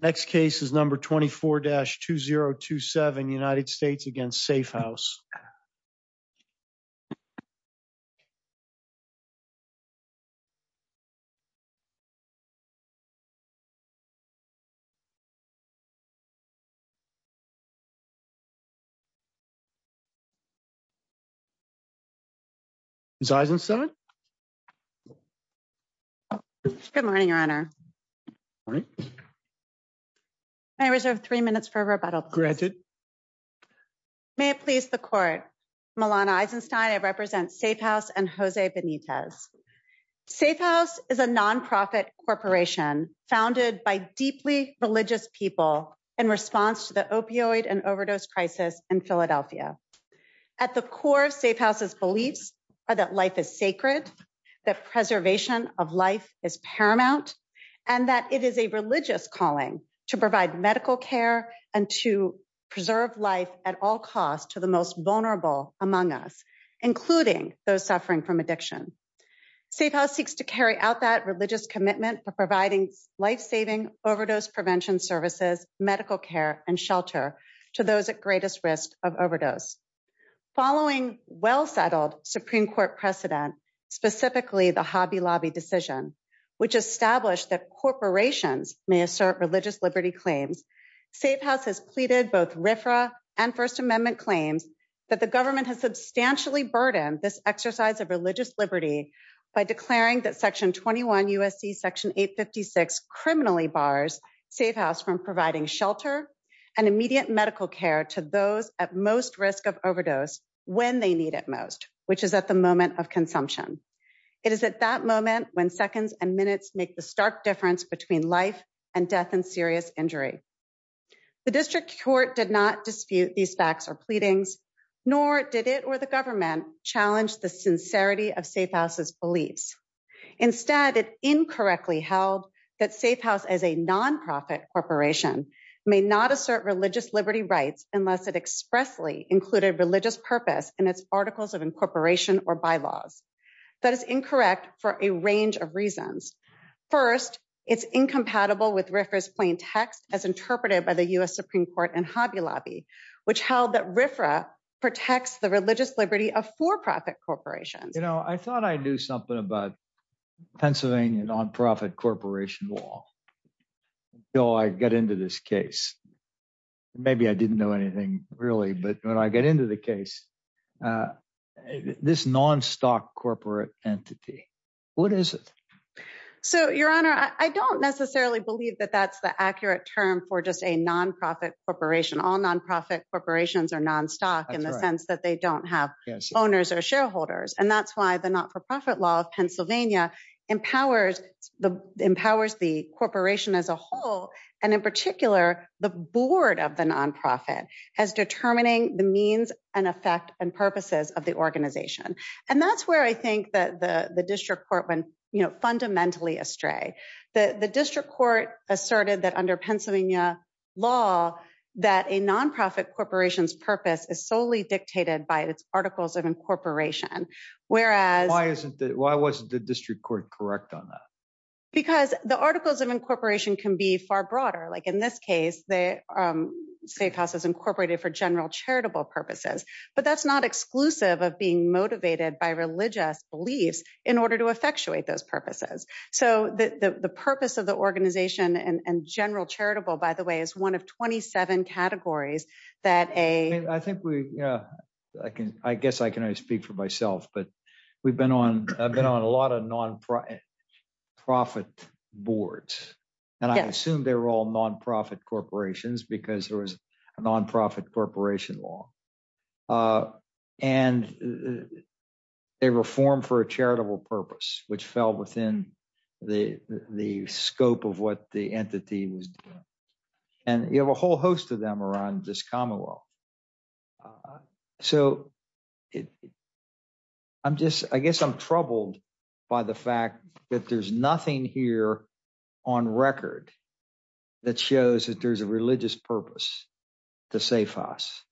Next case is number 24-2027 United States against Safehouse. Is Eisenstein? Good morning, Your Honor. May I reserve three minutes for rebuttal, please? May it please the Court, Melana Eisenstein. I represent Safehouse and Jose Benitez. Safehouse is a nonprofit corporation founded by deeply religious people in response to the opioid and overdose crisis in Philadelphia. At the core of Safehouse's beliefs are that life is sacred, that preservation of life is paramount, and that it is a religious calling to provide medical care and to preserve life at all costs to the most vulnerable among us, including those suffering from addiction. Safehouse seeks to carry out that religious commitment to providing life-saving overdose prevention services, medical care, and shelter to those at greatest risk of overdose. Following well-settled Supreme Court precedent, specifically the Hobby Lobby decision, which established that corporations may assert religious liberty claims, Safehouse has pleaded both RFRA and First Amendment claims that the government has substantially burdened this exercise of religious liberty by declaring that Section 21 U.S.C. Section 856 criminally bars Safehouse from providing shelter and immediate medical care to those at most risk of overdose when they need it most, which is at the moment of consumption. It is at that moment when seconds and minutes make the stark difference between life and death and serious injury. The district court did not dispute these facts or pleadings, nor did it or the government challenge the sincerity of Safehouse's beliefs. Instead, it incorrectly held that Safehouse as a nonprofit corporation may not assert religious liberty rights unless it expressly included religious purpose in its articles of incorporation or bylaws. That is incorrect for a range of reasons. First, it's incompatible with RFRA's plain text as interpreted by the U.S. Supreme Court and Hobby Lobby, which held that RFRA protects the religious liberty of for-profit corporations. You know, I thought I knew something about Pennsylvania nonprofit corporation law until I get into this case. Maybe I didn't know anything really, but when I get into the case, this non-stock corporate entity, what is it? So, your honor, I don't necessarily believe that that's the accurate term for just a nonprofit corporation. All nonprofit corporations are non-stock in the sense that they don't have owners or shareholders, and that's why the not-for-profit law of Pennsylvania empowers the corporation as a whole, and in particular, the board of the nonprofit as determining the means and effect and purposes of the organization. And that's where I think that the district court went, you know, fundamentally astray. The district court asserted that under Pennsylvania law, that a nonprofit corporation's purpose is solely dictated by its articles of incorporation. Why wasn't the district court correct on that? Because the articles of incorporation can be far broader, like in this case, the safe house is incorporated for general charitable purposes, but that's not exclusive of being motivated by religious beliefs in order to effectuate those purposes. So, the purpose of the organization and general charitable, by the way, is one of 27 categories that a... I think we, I can, I guess I can only speak for myself, but we've been on, I've been on a lot of non-profit boards, and I assume they're all nonprofit corporations because there was a nonprofit corporation law, and a reform for a charitable purpose, which fell within the scope of what the entity was doing. And you have a whole host of them around this Commonwealth. So, I'm just, I guess I'm troubled by the fact that there's nothing here on record that shows that there's a religious purpose to safe house.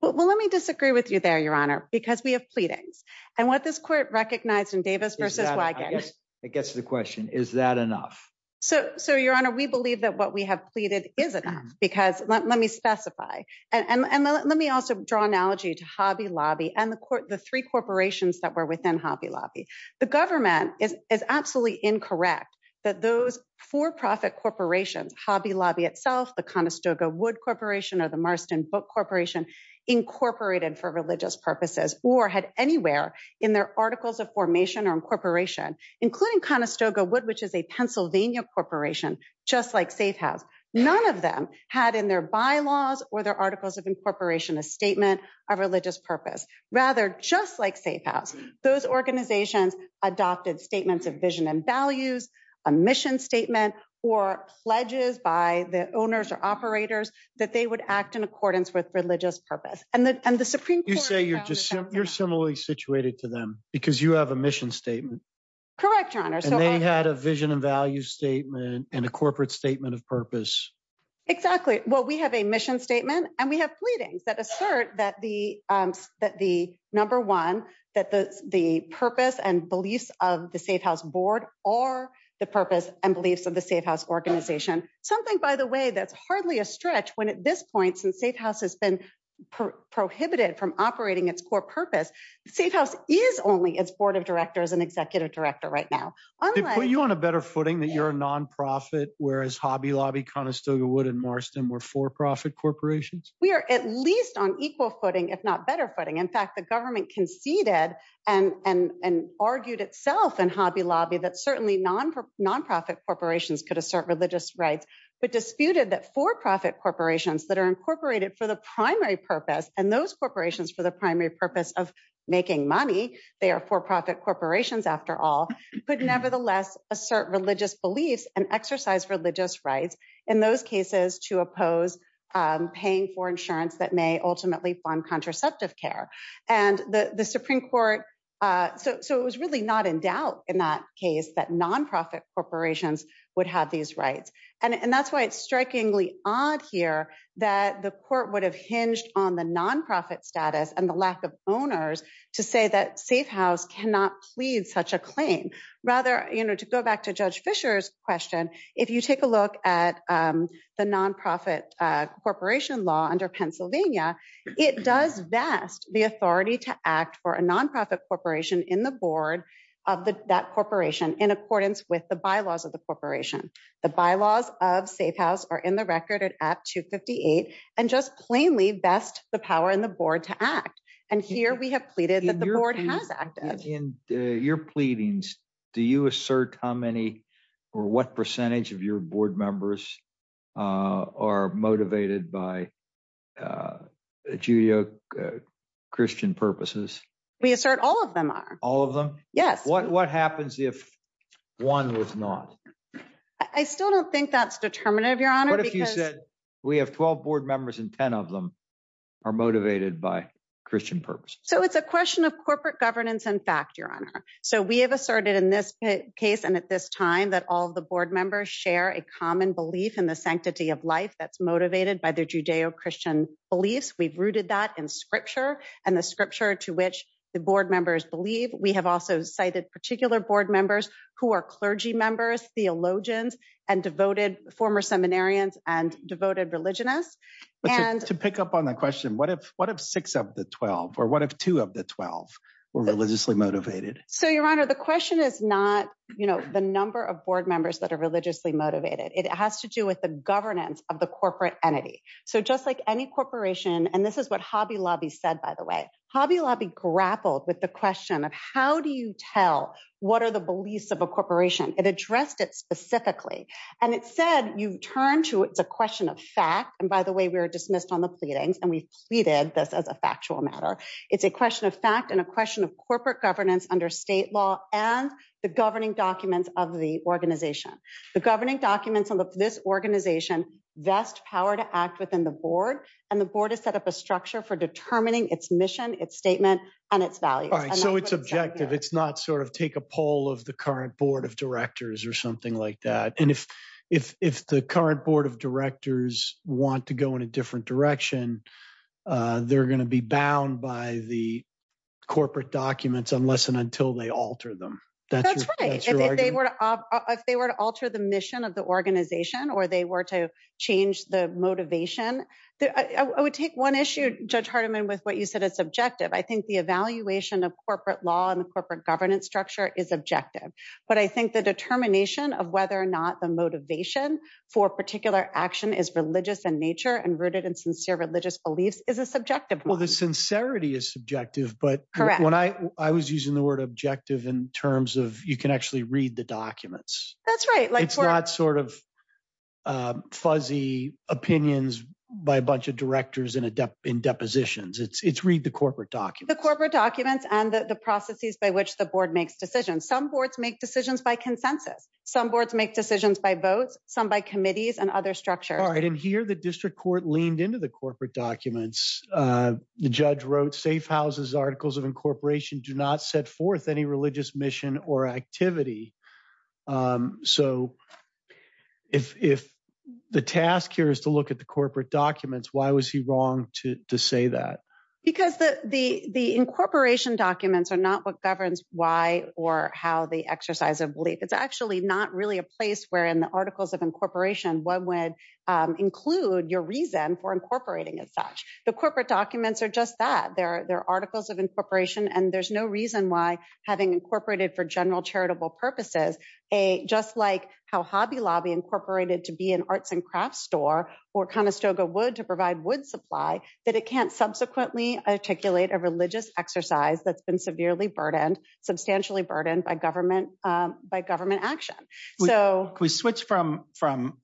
Well, let me disagree with you there, your honor, because we have pleadings. And what this court recognized in Davis versus Wigan... It gets to the question, is that enough? So, your honor, we believe that what we have pleaded is enough, because, let me specify, and let me also draw an analogy to Hobby Lobby and the three corporations that were within Hobby Lobby. The government is absolutely incorrect that those for-profit corporations, Hobby Lobby itself, the Conestoga Wood Corporation, or the Marston Book Corporation, incorporated for religious purposes, or had anywhere in their articles of formation or incorporation, including Conestoga Wood, which is a Pennsylvania corporation, just like Safe House. None of them had in their bylaws or their articles of incorporation a statement of religious purpose. Rather, just like Safe House, those organizations adopted statements of vision and values, a mission statement, or pledges by the owners or operators that they would act in accordance with religious purpose. And the Supreme Court... You say you're similarly situated to them because you have a mission statement. Correct, your honor. And they had a vision and value statement and a corporate statement of purpose. Exactly. Well, we have a mission statement and we have pleadings that assert that the number one, that the purpose and beliefs of the Safe House board are the purpose and beliefs of the Safe House organization. Something, by the way, that's hardly a stretch when at this point, since Safe House has been prohibited from operating its core purpose, Safe House is only its board of directors and executive director right now. They put you on a better footing that you're a nonprofit, whereas Hobby Lobby, Conestoga Wood, and Marston were for-profit corporations? We are at least on equal footing, if not better footing. In fact, the government conceded and argued itself in Hobby Lobby that certainly nonprofit corporations could assert religious rights, but disputed that for-profit corporations that are incorporated for the primary purpose, and those corporations for the primary purpose of making money, they are for-profit corporations after all, could nevertheless assert religious beliefs and exercise religious rights. In those cases, to oppose paying for insurance that may ultimately fund contraceptive care. And the Supreme Court, so it was really not in doubt in that case that nonprofit corporations would have these rights. And that's why it's strikingly odd here that the court would have hinged on the nonprofit status and the lack of owners to say that Safe House cannot plead such a claim. Rather, you know, to go back to Judge Fischer's question, if you take a look at the nonprofit corporation law under Pennsylvania, it does vest the authority to act for a nonprofit corporation in the board of that corporation in accordance with the bylaws of the corporation. The bylaws of Safe House are in the record at 258 and just plainly vest the power in the board to act. And here we have pleaded that the board has acted. In your pleadings, do you assert how many or what percentage of your board members are motivated by Judeo-Christian purposes? We assert all of them are. All of them? Yes. What happens if one was not? I still don't think that's determinative, Your Honor. What if you said we have 12 board members and 10 of them are motivated by Christian purposes? So it's a question of corporate governance and fact, Your Honor. So we have asserted in this case and at this time that all of the board members share a common belief in the sanctity of life that's motivated by their Judeo-Christian beliefs. We've rooted that in scripture and the scripture to which the board members believe. We have also cited particular board members who are clergy members, theologians and devoted former seminarians and devoted religionists. To pick up on the question, what if six of the 12 or what if two of the 12 were religiously motivated? So, Your Honor, the question is not, you know, the number of board members that are religiously motivated. It has to do with the governance of the corporate entity. So just like any corporation and this is what Hobby Lobby said, by the way, Hobby Lobby grappled with the question of how do you tell what are the beliefs of a corporation? It addressed it specifically and it said you turn to it's a question of fact. And by the way, we were dismissed on the pleadings and we pleaded this as a factual matter. It's a question of fact and a question of corporate governance under state law and the governing documents of the organization. The governing documents of this organization vest power to act within the board and the board is set up a structure for determining its mission, its statement and its values. So it's objective. It's not sort of take a poll of the current board of directors or something like that. And if the current board of directors want to go in a different direction, they're going to be bound by the corporate documents unless and until they alter them. That's right. If they were to alter the mission of the organization or they were to change the motivation, I would take one issue Judge Hardiman with what you said is subjective. I think the evaluation of corporate law and the corporate governance structure is objective. But I think the determination of whether or not the motivation for particular action is religious in nature and rooted in sincere religious beliefs is a subjective. Well, the sincerity is subjective, but when I was using the word objective in terms of you can actually read the documents. That's right. It's not sort of fuzzy opinions by a bunch of directors in depositions. It's read the corporate documents. The corporate documents and the processes by which the board makes decisions. Some boards make decisions by consensus. Some boards make decisions by votes, some by committees and other structures. And here the district court leaned into the corporate documents. The judge wrote safe houses articles of incorporation do not set forth any religious mission or activity. So if the task here is to look at the corporate documents, why was he wrong to say that? Because the incorporation documents are not what governs why or how the exercise of belief. It's actually not really a place where in the articles of incorporation one would include your reason for incorporating as such. The corporate documents are just that. They're articles of incorporation and there's no reason why having incorporated for general charitable purposes, just like how Hobby Lobby incorporated to be an arts and crafts store or Conestoga Wood to provide wood supply, that it can't subsequently articulate a religious exercise that's been severely burdened, substantially burdened by government action. Can we switch from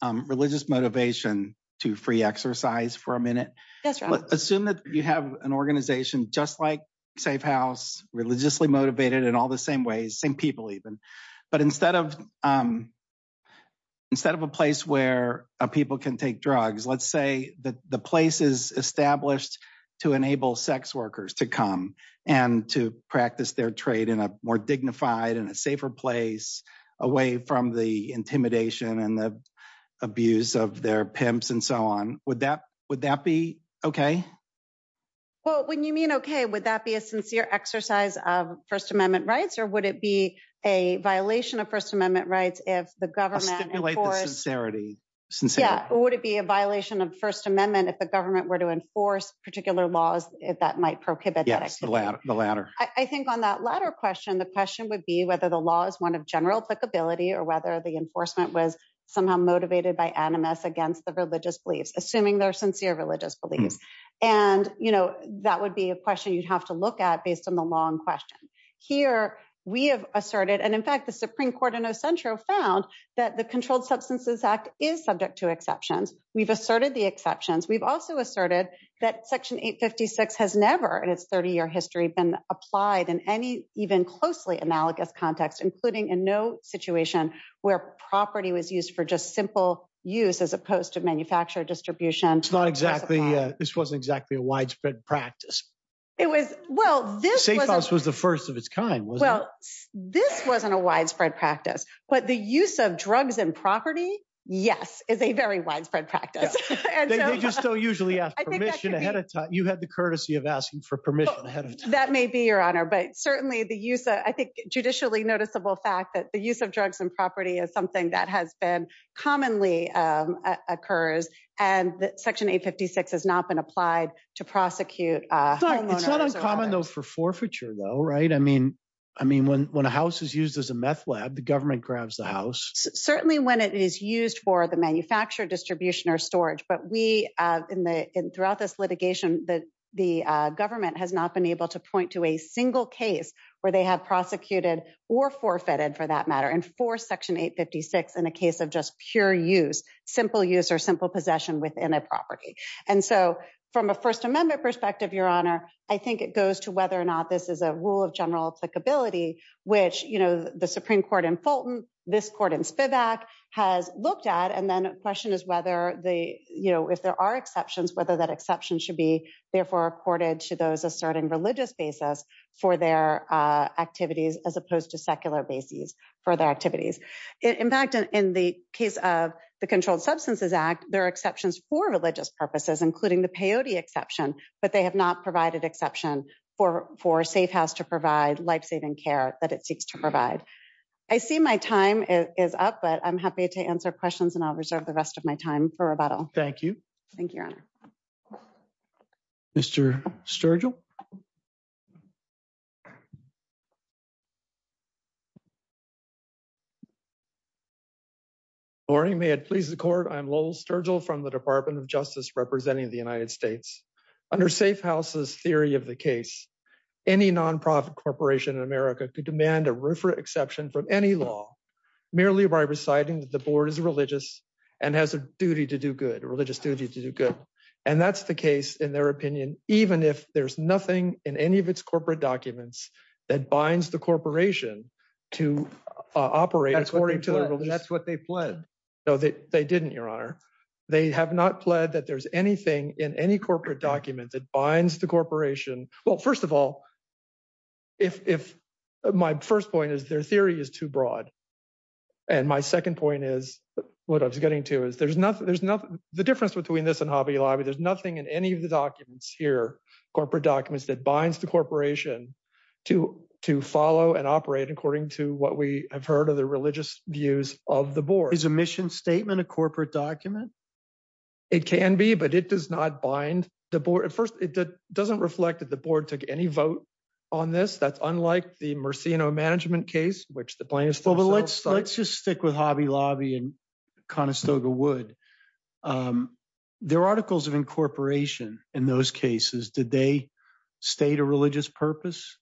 religious motivation to free exercise for a minute? Assume that you have an organization just like Safe House, religiously motivated in all the same ways, same people even, but instead of a place where people can take drugs, let's say that the place is established to enable sex workers to come and to practice their trade in a more dignified and a safer place away from the intimidation and the abuse of their pimps and so on. Would that be okay? Well, when you mean okay, would that be a sincere exercise of First Amendment rights or would it be a violation of First Amendment rights if the government enforced... I'll stipulate the sincerity. Would it be a violation of First Amendment if the government were to enforce particular laws that might prohibit that activity? Yes, the latter. I think on that latter question, the question would be whether the law is one of general applicability or whether the enforcement was somehow motivated by animus against the religious beliefs, assuming they're sincere religious beliefs. And, you know, that would be a question you'd have to look at based on the long question. Here, we have asserted, and in fact, the Supreme Court in Ocentro found that the Controlled Substances Act is subject to exceptions. We've asserted the exceptions. We've also asserted that Section 856 has never in its 30-year history been applied in any even closely analogous context, including in no situation where property was used for just simple use as opposed to manufactured distribution. It's not exactly, this wasn't exactly a widespread practice. It was, well, this was... Safehouse was the first of its kind, wasn't it? Well, this wasn't a widespread practice, but the use of drugs and property, yes, is a very widespread practice. They just don't usually ask permission ahead of time. You had the courtesy of asking for permission ahead of time. That may be, Your Honor, but certainly the use of, I think, judicially noticeable fact that the use of drugs and property is something that has been, commonly occurs, and that Section 856 has not been applied to prosecute a homeowner. It's not uncommon though for forfeiture though, right? I mean, when a house is used as a meth lab, the government grabs the house. Certainly when it is used for the manufactured distribution or storage, but we, throughout this litigation, the government has not been able to point to a single case where they have prosecuted or forfeited, for that matter, and forced Section 856 in a case of just pure use, simple use or simple possession within a property. And so from a First Amendment perspective, Your Honor, I think it goes to whether or not this is a rule of general applicability, which, you know, the Supreme Court in Fulton, this court in Vivac has looked at, and then the question is whether the, you know, if there are exceptions, whether that exception should be, therefore, accorded to those asserting religious basis for their activities as opposed to secular basis for their activities. In fact, in the case of the Controlled Substances Act, there are exceptions for religious purposes, including the peyote exception, but they have not provided exception for Safe House to provide life-saving care that it seeks to provide. I see my time is up, but I'm happy to answer questions and I'll reserve the rest of my time for rebuttal. Thank you. Thank you, Your Honor. Mr. Sturgill. Good morning. May it please the Court. I'm Lowell Sturgill from the Department of Justice representing the United States. Under Safe House's theory of the case, any nonprofit corporation in America could demand a roofer exception from any law merely by reciting that the board is religious and has a duty to do good, a religious duty to do good. And that's the case in their opinion, even if there's nothing in any of its corporate documents that binds the corporation to operate according to their religion. That's what they pled. No, they didn't, Your Honor. They have not pled that there's anything in any corporate document that binds the corporation. Well, first of all, if my first point is their theory is too broad, and my second point is what I was getting to is there's nothing, there's nothing, the difference between this and Hobby Lobby, there's nothing in any of the documents here, corporate documents that binds the corporation to follow and operate according to what we have heard of the religious views of the board. Is a mission statement a corporate document? It can be, but it does not bind the board. At first, it doesn't reflect that the board took any vote on this. That's unlike the Mersino management case, which the plaintiff still, but let's just stick with Hobby Lobby and Conestoga Wood. There are articles of incorporation in those cases. Did they state a religious purpose?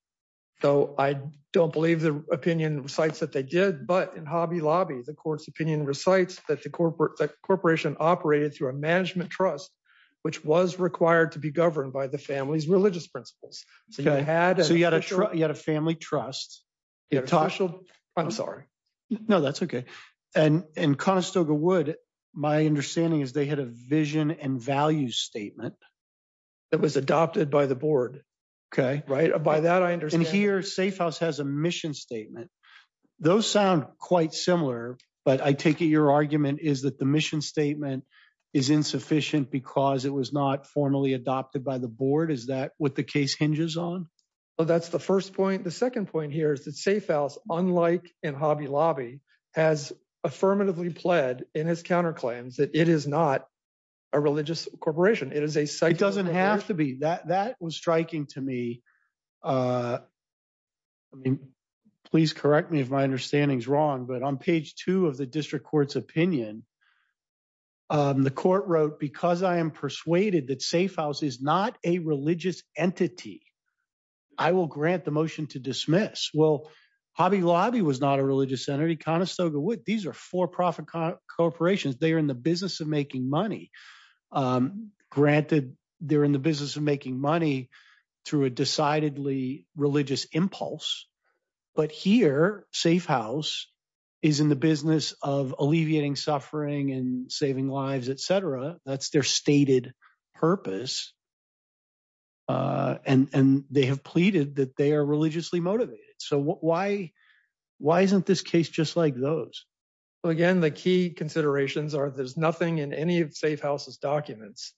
Though I don't believe the opinion recites that they did, but in Hobby Lobby, the court's opinion recites that the corporation operated through a management trust, which was required to be governed by the family's religious principles. So you had a family trust. I'm sorry. No, that's okay. And in Conestoga Wood, my understanding is they had a vision and value statement that was adopted by the board. Okay, right. By that, I understand. Here, Safehouse has a mission statement. Those sound quite similar, but I take it your argument is that the mission statement is insufficient because it was not formally adopted by the board. Is that what the case hinges on? Well, that's the first point. The second point here is that Safehouse, unlike in Hobby Lobby, has affirmatively pled in his counterclaims that it is not a religious corporation. It is a site doesn't have to be that that was striking to me. Please correct me if my understanding is wrong, but on page two of the district court's opinion, the court wrote because I am persuaded that Safehouse is not a religious entity. I will grant the motion to dismiss. Well, Hobby Lobby was not a religious entity. Conestoga Wood, these are for-profit corporations. They are in the business of making money. Granted, they're in the business of making money through a decidedly religious impulse. But here, Safehouse is in the business of alleviating suffering and saving lives, etc. That's their stated purpose. And they have pleaded that they are religiously motivated. So why isn't this case just like those? Again, the key considerations are there's nothing in any of Safehouse's documents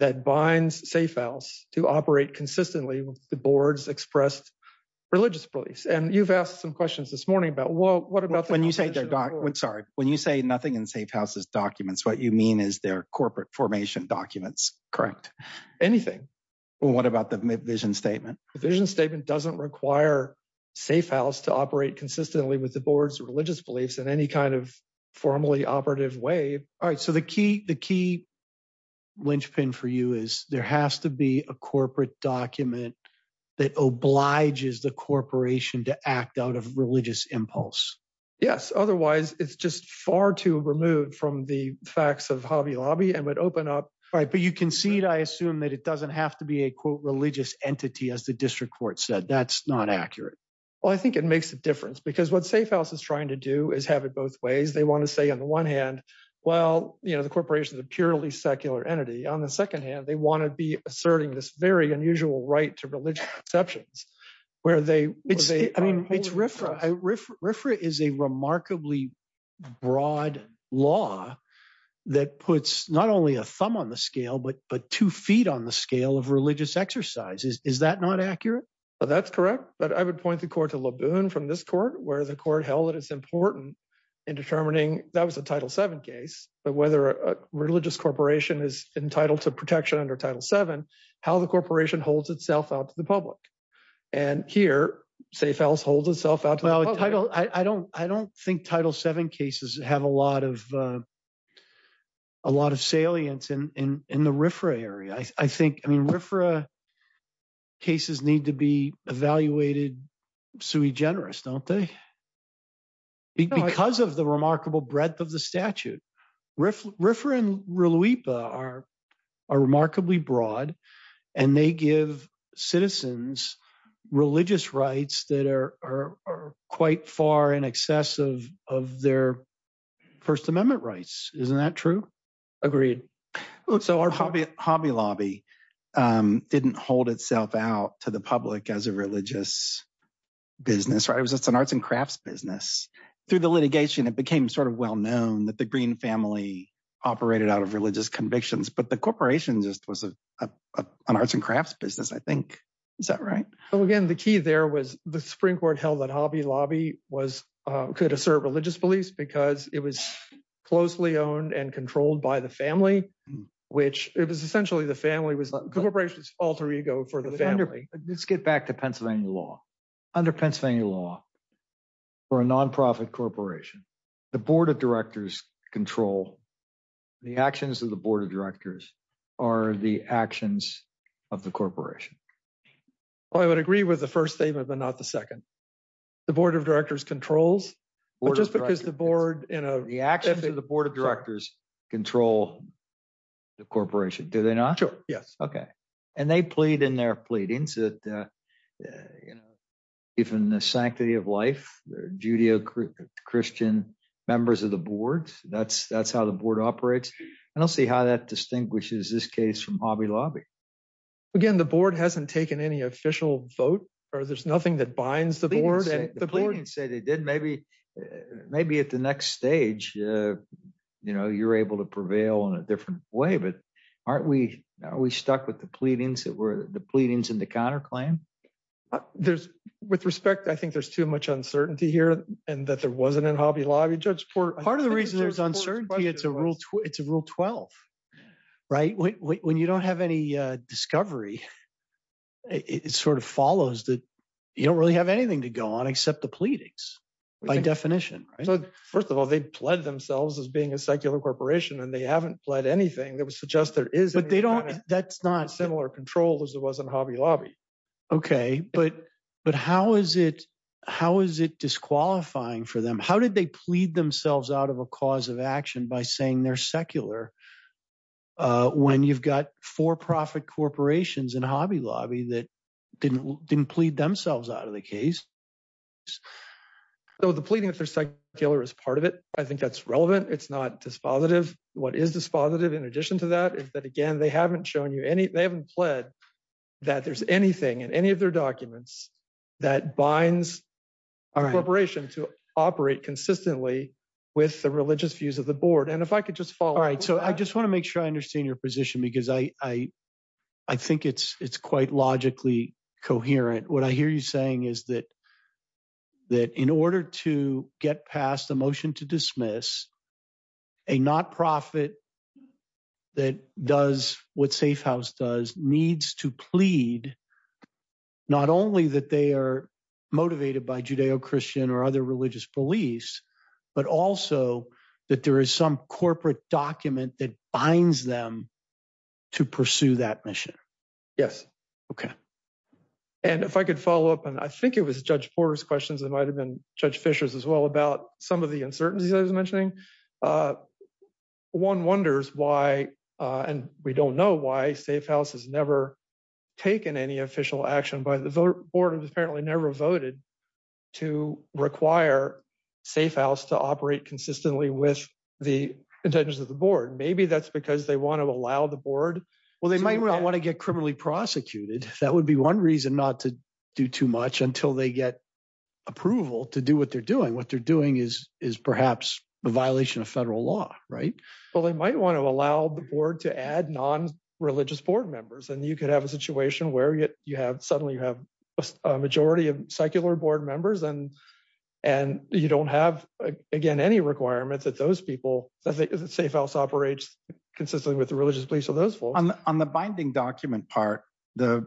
that binds Safehouse to operate consistently with the board's expressed religious beliefs. And you've asked some questions this morning about, well, what about when you say, sorry, when you say nothing in Safehouse's what you mean is their corporate formation documents, correct? Well, what about the vision statement? The vision statement doesn't require Safehouse to operate consistently with the board's religious beliefs in any kind of formally operative way. All right. So the key linchpin for you is there has to be a corporate document that obliges the corporation to act out of religious impulse. Yes. Otherwise, it's just far too removed from the facts of Hobby Lobby and would open up. All right, but you concede, I assume, that it doesn't have to be a, quote, religious entity as the district court said. That's not accurate. Well, I think it makes a difference because what Safehouse is trying to do is have it both ways. They want to say on the one hand, well, you know, the corporation is a purely secular entity. On the second hand, they want to be asserting this very unusual right to religious conceptions. Where are they? It's, I mean, it's RFRA. RFRA is a remarkably broad law that puts not only a thumb on the scale, but two feet on the scale of religious exercises. Is that not accurate? Well, that's correct. But I would point the court to Laboon from this court where the court held that it's important in determining, that was a Title VII case, but whether a religious corporation is entitled to protection under Title VII, how the corporation holds itself out to the public. And here, Safehouse holds itself out. Well, I don't think Title VII cases have a lot of salience in the RFRA area. I think, I mean, RFRA cases need to be evaluated sui generis, don't they? Because of the remarkable breadth of the statute. RFRA and RLUIPA are remarkably broad, and they give citizens religious rights that are quite far in excess of their First Amendment rights. Isn't that true? Agreed. So our Hobby Lobby didn't hold itself out to the public as a religious business, right? It's an arts and crafts business. Through the litigation, it became sort of well-known that the Green family operated out of religious convictions. But the corporation just was an arts and crafts business, I think. Is that right? So again, the key there was the Supreme Court held that Hobby Lobby was, could assert religious beliefs because it was closely owned and controlled by the family, which it was essentially the family was the corporation's alter ego for the family. Let's get back to Pennsylvania law. Under Pennsylvania law, for a nonprofit corporation, the Board of Directors control, the actions of the Board of Directors are the actions of the corporation. I would agree with the first statement, but not the second. The Board of Directors controls, but just because the board, you know, the actions of the Board of Directors control the corporation, do they not? Sure. Yes. Okay. And they plead in their pleadings that, you know, even the Sanctity of Life, Judeo-Christian members of the board, that's how the board operates. I don't see how that distinguishes this case from Hobby Lobby. Again, the board hasn't taken any official vote, or there's nothing that binds the board. The pleadings say they did, maybe at the next stage, you know, you're able to prevail in a different way. But aren't we, are we stuck with the pleadings that were the pleadings and the counterclaim? There's, with respect, I think there's too much uncertainty here, and that there wasn't in Hobby Lobby. Judge Port- Part of the reason there's uncertainty, it's a rule 12, right? When you don't have any discovery, it sort of follows that you don't really have anything to go on except the pleadings, by definition. So, first of all, they pled themselves as being a secular corporation, and they haven't pled anything that would suggest there is- But they don't, that's not- similar control as it was in Hobby Lobby. Okay, but, but how is it, how is it disqualifying for them? How did they plead themselves out of a cause of action by saying they're secular, when you've got for-profit corporations in Hobby Lobby that didn't, didn't plead themselves out of the case? So the pleading if they're secular is part of it. I think that's relevant. It's not dispositive. What is dispositive, in addition to that, is that again, they haven't shown you any, they haven't pled that there's anything in any of their documents that binds a corporation to operate consistently with the religious views of the board. And if I could just follow- All right. So I just want to make sure I understand your position because I, I think it's, it's quite logically coherent. What I hear you saying is that, that in order to get past the motion to dismiss, a not-profit that does what Safehouse does, needs to plead not only that they are motivated by Judeo-Christian or other religious beliefs, but also that there is some corporate document that binds them to pursue that mission. Yes. Okay. And if I could follow up, and I think it was Judge Porter's questions, it might have been Judge Fisher's as well, about some of the uncertainties I was mentioning. One wonders why, and we don't know why, Safehouse has never taken any official action by the board, which apparently never voted, to require Safehouse to operate consistently with the intentions of the board. Maybe that's because they want to allow the board- Well, they might not want to get criminally prosecuted. That would be one reason not to do too much until they get approval to do what they're doing. What they're doing is perhaps a violation of federal law, right? Well, they might want to allow the board to add non-religious board members, and you could have a situation where you suddenly have a majority of secular board members, and you don't have, again, any requirements that those people, that Safehouse operates consistently with the religious beliefs of those folks. On the binding document part, the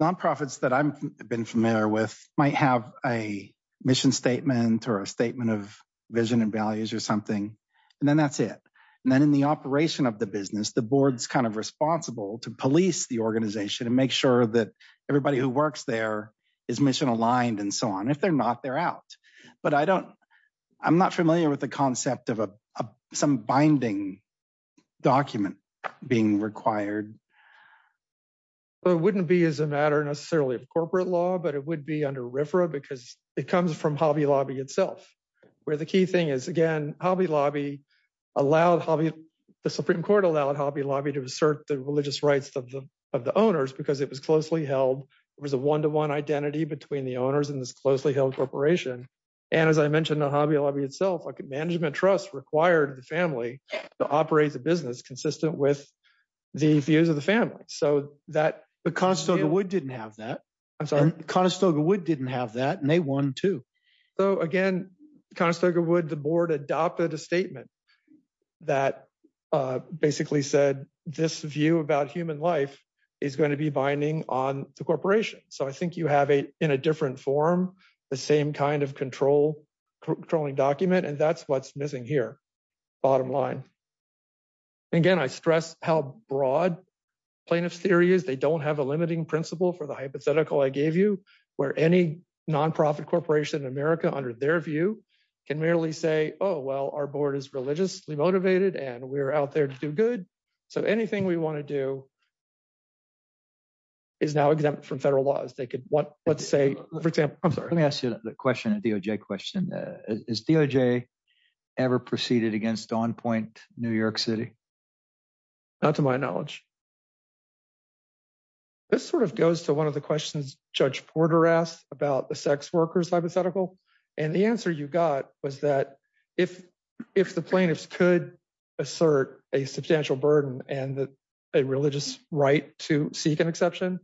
or a statement of vision and values or something, and then that's it. And then in the operation of the business, the board's kind of responsible to police the organization and make sure that everybody who works there is mission-aligned and so on. If they're not, they're out. But I don't, I'm not familiar with the concept of some binding document being required. It wouldn't be as a matter necessarily of corporate law, but it would be under RFRA because it comes from Hobby Lobby itself, where the key thing is, again, Hobby Lobby allowed Hobby Lobby, the Supreme Court allowed Hobby Lobby to assert the religious rights of the owners because it was closely held. It was a one-to-one identity between the owners and this closely held corporation. And as I mentioned, the Hobby Lobby itself, like a management trust required the family to operate the business consistent with the views of the family. So that, but Conestoga Wood didn't have that. I'm sorry, Conestoga Wood didn't have that and they won too. So again, Conestoga Wood, the board adopted a statement that basically said this view about human life is going to be binding on the corporation. So I think you have a, in a different form, the same kind of control, controlling document, and that's what's missing here, bottom line. Again, I stress how broad plaintiff's theory is. They don't have a limiting principle for the hypothetical I gave you, where any nonprofit corporation in America under their view can merely say, oh, well, our board is religiously motivated and we're out there to do good. So anything we want to do is now exempt from federal laws. They could want, let's say, for example, I'm sorry. Let me ask you the question, a DOJ question. Is DOJ ever proceeded against On Point New York City? Not to my knowledge. This sort of goes to one of the questions Judge Porter asked about the sex workers hypothetical, and the answer you got was that if the plaintiffs could assert a substantial burden and a religious right to seek an exception,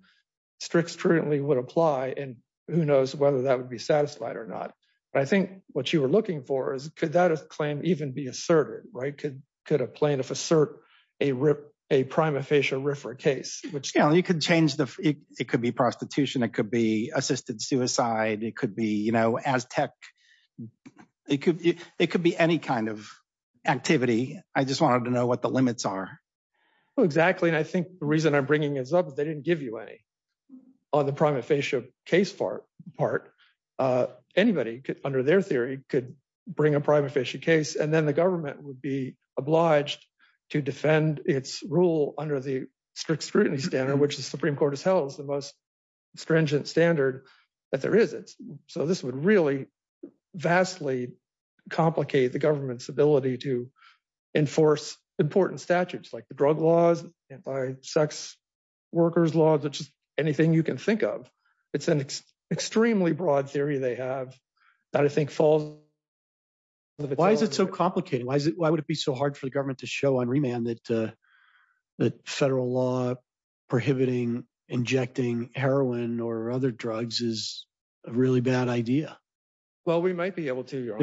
strict scrutiny would apply, and who knows whether that would be satisfied or not. But I think what you were looking for is could that claim even be asserted, right? Could a plaintiff assert a prima facie RFRA case, which you know, you could change the, it could be prostitution, it could be assisted suicide, it could be, you know, Aztec, it could be any kind of activity. I just wanted to know what the limits are. Exactly, and I think the reason I'm bringing this up is they didn't give you any on the prima facie case part. Anybody under their theory could bring a prima facie case and then the government would be obliged to defend its rule under the strict scrutiny standard, which the Supreme Court has held is the most stringent standard that there is. So this would really vastly complicate the government's ability to enforce important statutes, like the drug laws, anti-sex workers laws, just anything you can think of. It's an extremely broad theory they have that I think falls. Why is it so complicated? Why is it, why would it be so hard for the government to show on remand that the federal law prohibiting injecting heroin or other drugs is a really bad idea? Well, we might be able to.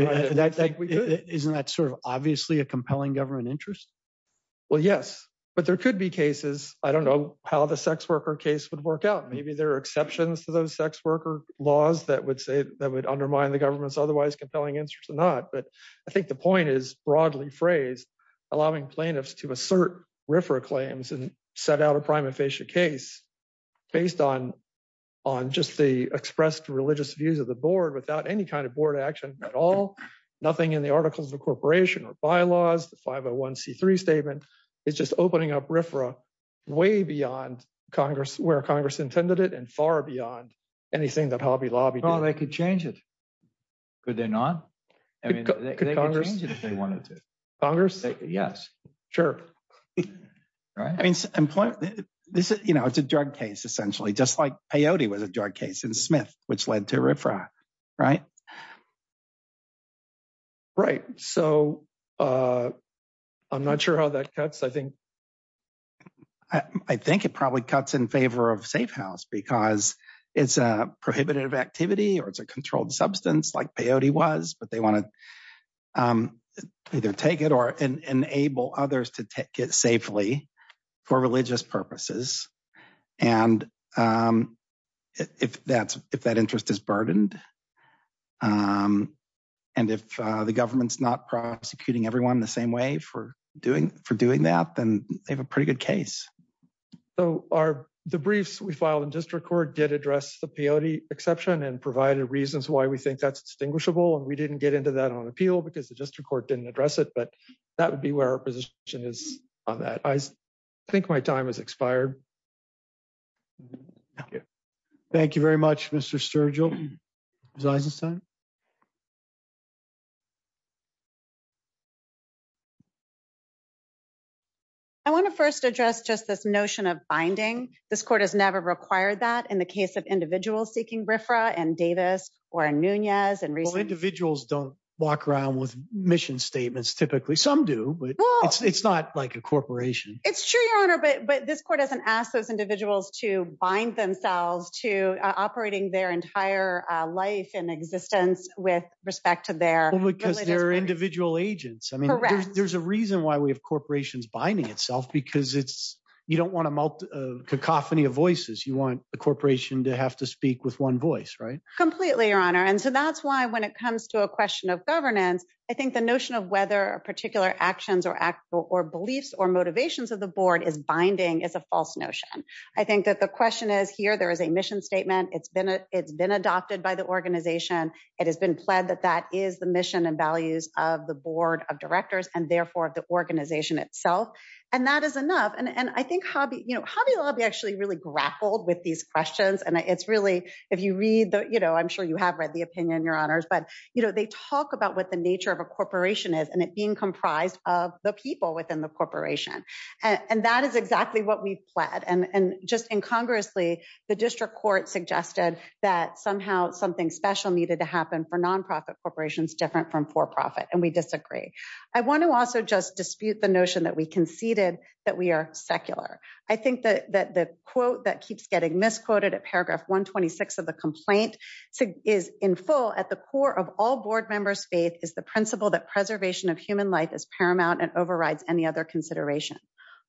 Isn't that sort of obviously a compelling government interest? Well, yes, but there could be cases, I don't know how the sex worker case would work out. Maybe there are exceptions to those sex worker laws that would say that would undermine the government's otherwise compelling interest or not. But I think the point is broadly phrased, allowing plaintiffs to assert RFRA claims and set out a prime and facie case based on just the expressed religious views of the board without any kind of board action at all, nothing in the Articles of Incorporation or bylaws, the 501c3 statement is just opening up RFRA way beyond where Congress intended it and far beyond anything that Hobby Lobby did. They could change it. Could they not? I mean, they could change it if they wanted to. Yes, sure. Right. I mean, this is, you know, it's a drug case, essentially, just like peyote was a drug case in Smith, which led to RFRA, right? Right, so I'm not sure how that cuts. I think, I think it probably cuts in favor of safe house because it's a prohibitive activity or it's a controlled substance like peyote was, but they want to either take it or enable others to take it safely for religious purposes. And if that interest is burdened, and if the government's not prosecuting everyone the same way for doing that, then they have a pretty good case. So the briefs we filed in district court did address the peyote exception and provided reasons why we think that's distinguishable. And we didn't get into that on appeal because the district court didn't address it, but that would be where our position is on that. I think my time has expired. Thank you. Thank you very much, Mr. Sturgill. Ms. Eisenstein? I want to first address just this notion of binding. This court has never required that in the case of individuals seeking RFRA and Davis or Nunez. Well, individuals don't walk around with mission statements typically, some do, but it's not like a corporation. It's true, Your Honor, but this court hasn't asked those individuals to bind themselves to operating their entire life and existence with respect to their... Because they're individual agents. I mean, there's a reason why we have corporations binding itself because you don't want a cacophony of voices. You want the corporation to have to speak with one voice, right? Completely, Your Honor. And so that's why when it comes to a question of governance, I think the notion of whether a particular actions or beliefs or motivations of the board is binding is a false notion. I think that the question is here. There is a mission statement. It's been adopted by the organization. It has been pled that that is the mission and values of the board of directors and therefore of the organization itself. And that is enough. And I think, you know, Hobby Lobby actually really grappled with these questions. And it's really, if you read the, you know, I'm sure you have read the opinion, Your Honors, but, you know, they talk about what the nature of a corporation is and it being comprised of the people within the corporation. And that is exactly what we've pled and just incongruously the district court suggested that somehow something special needed to happen for nonprofit corporations different from for-profit and we disagree. I want to also just dispute the notion that we conceded that we are secular. I think that the quote that keeps getting misquoted at paragraph 126 of the complaint is in full at the core of all board members faith is the principle that preservation of human life is paramount and overrides any other consideration.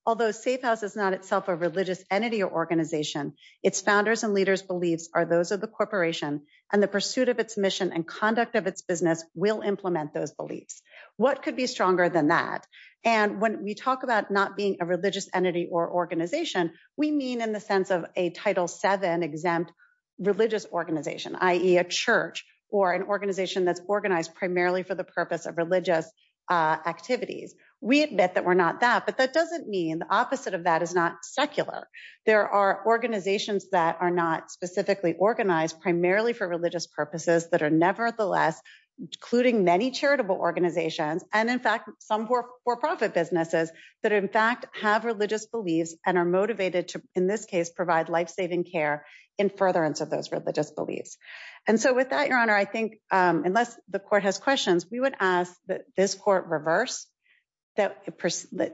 Although safe house is not itself a religious entity or organization its founders and leaders beliefs are those of the corporation and the pursuit of its mission and conduct of its business will implement those beliefs. What could be stronger than that? And when we talk about not being a religious entity or organization we mean in the sense of a title 7 exempt religious organization ie a church or an organization that's organized primarily for the purpose of religious activities. We admit that we're not that but that doesn't mean the opposite of that is not secular. There are organizations that are not specifically organized primarily for religious purposes that are nevertheless including many charitable organizations. And in fact some for-profit businesses that in fact have religious beliefs and are motivated to in this case provide life-saving care in furtherance of those religious beliefs. And so with that your honor, I think unless the court has questions we would ask that this court reverse that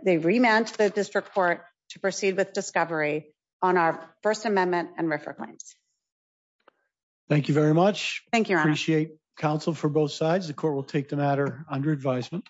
they remand to the district court to proceed with discovery on our First Amendment and RFRA claims. Thank you very much. Thank you. I appreciate counsel for both sides. The court will take the matter under advisement.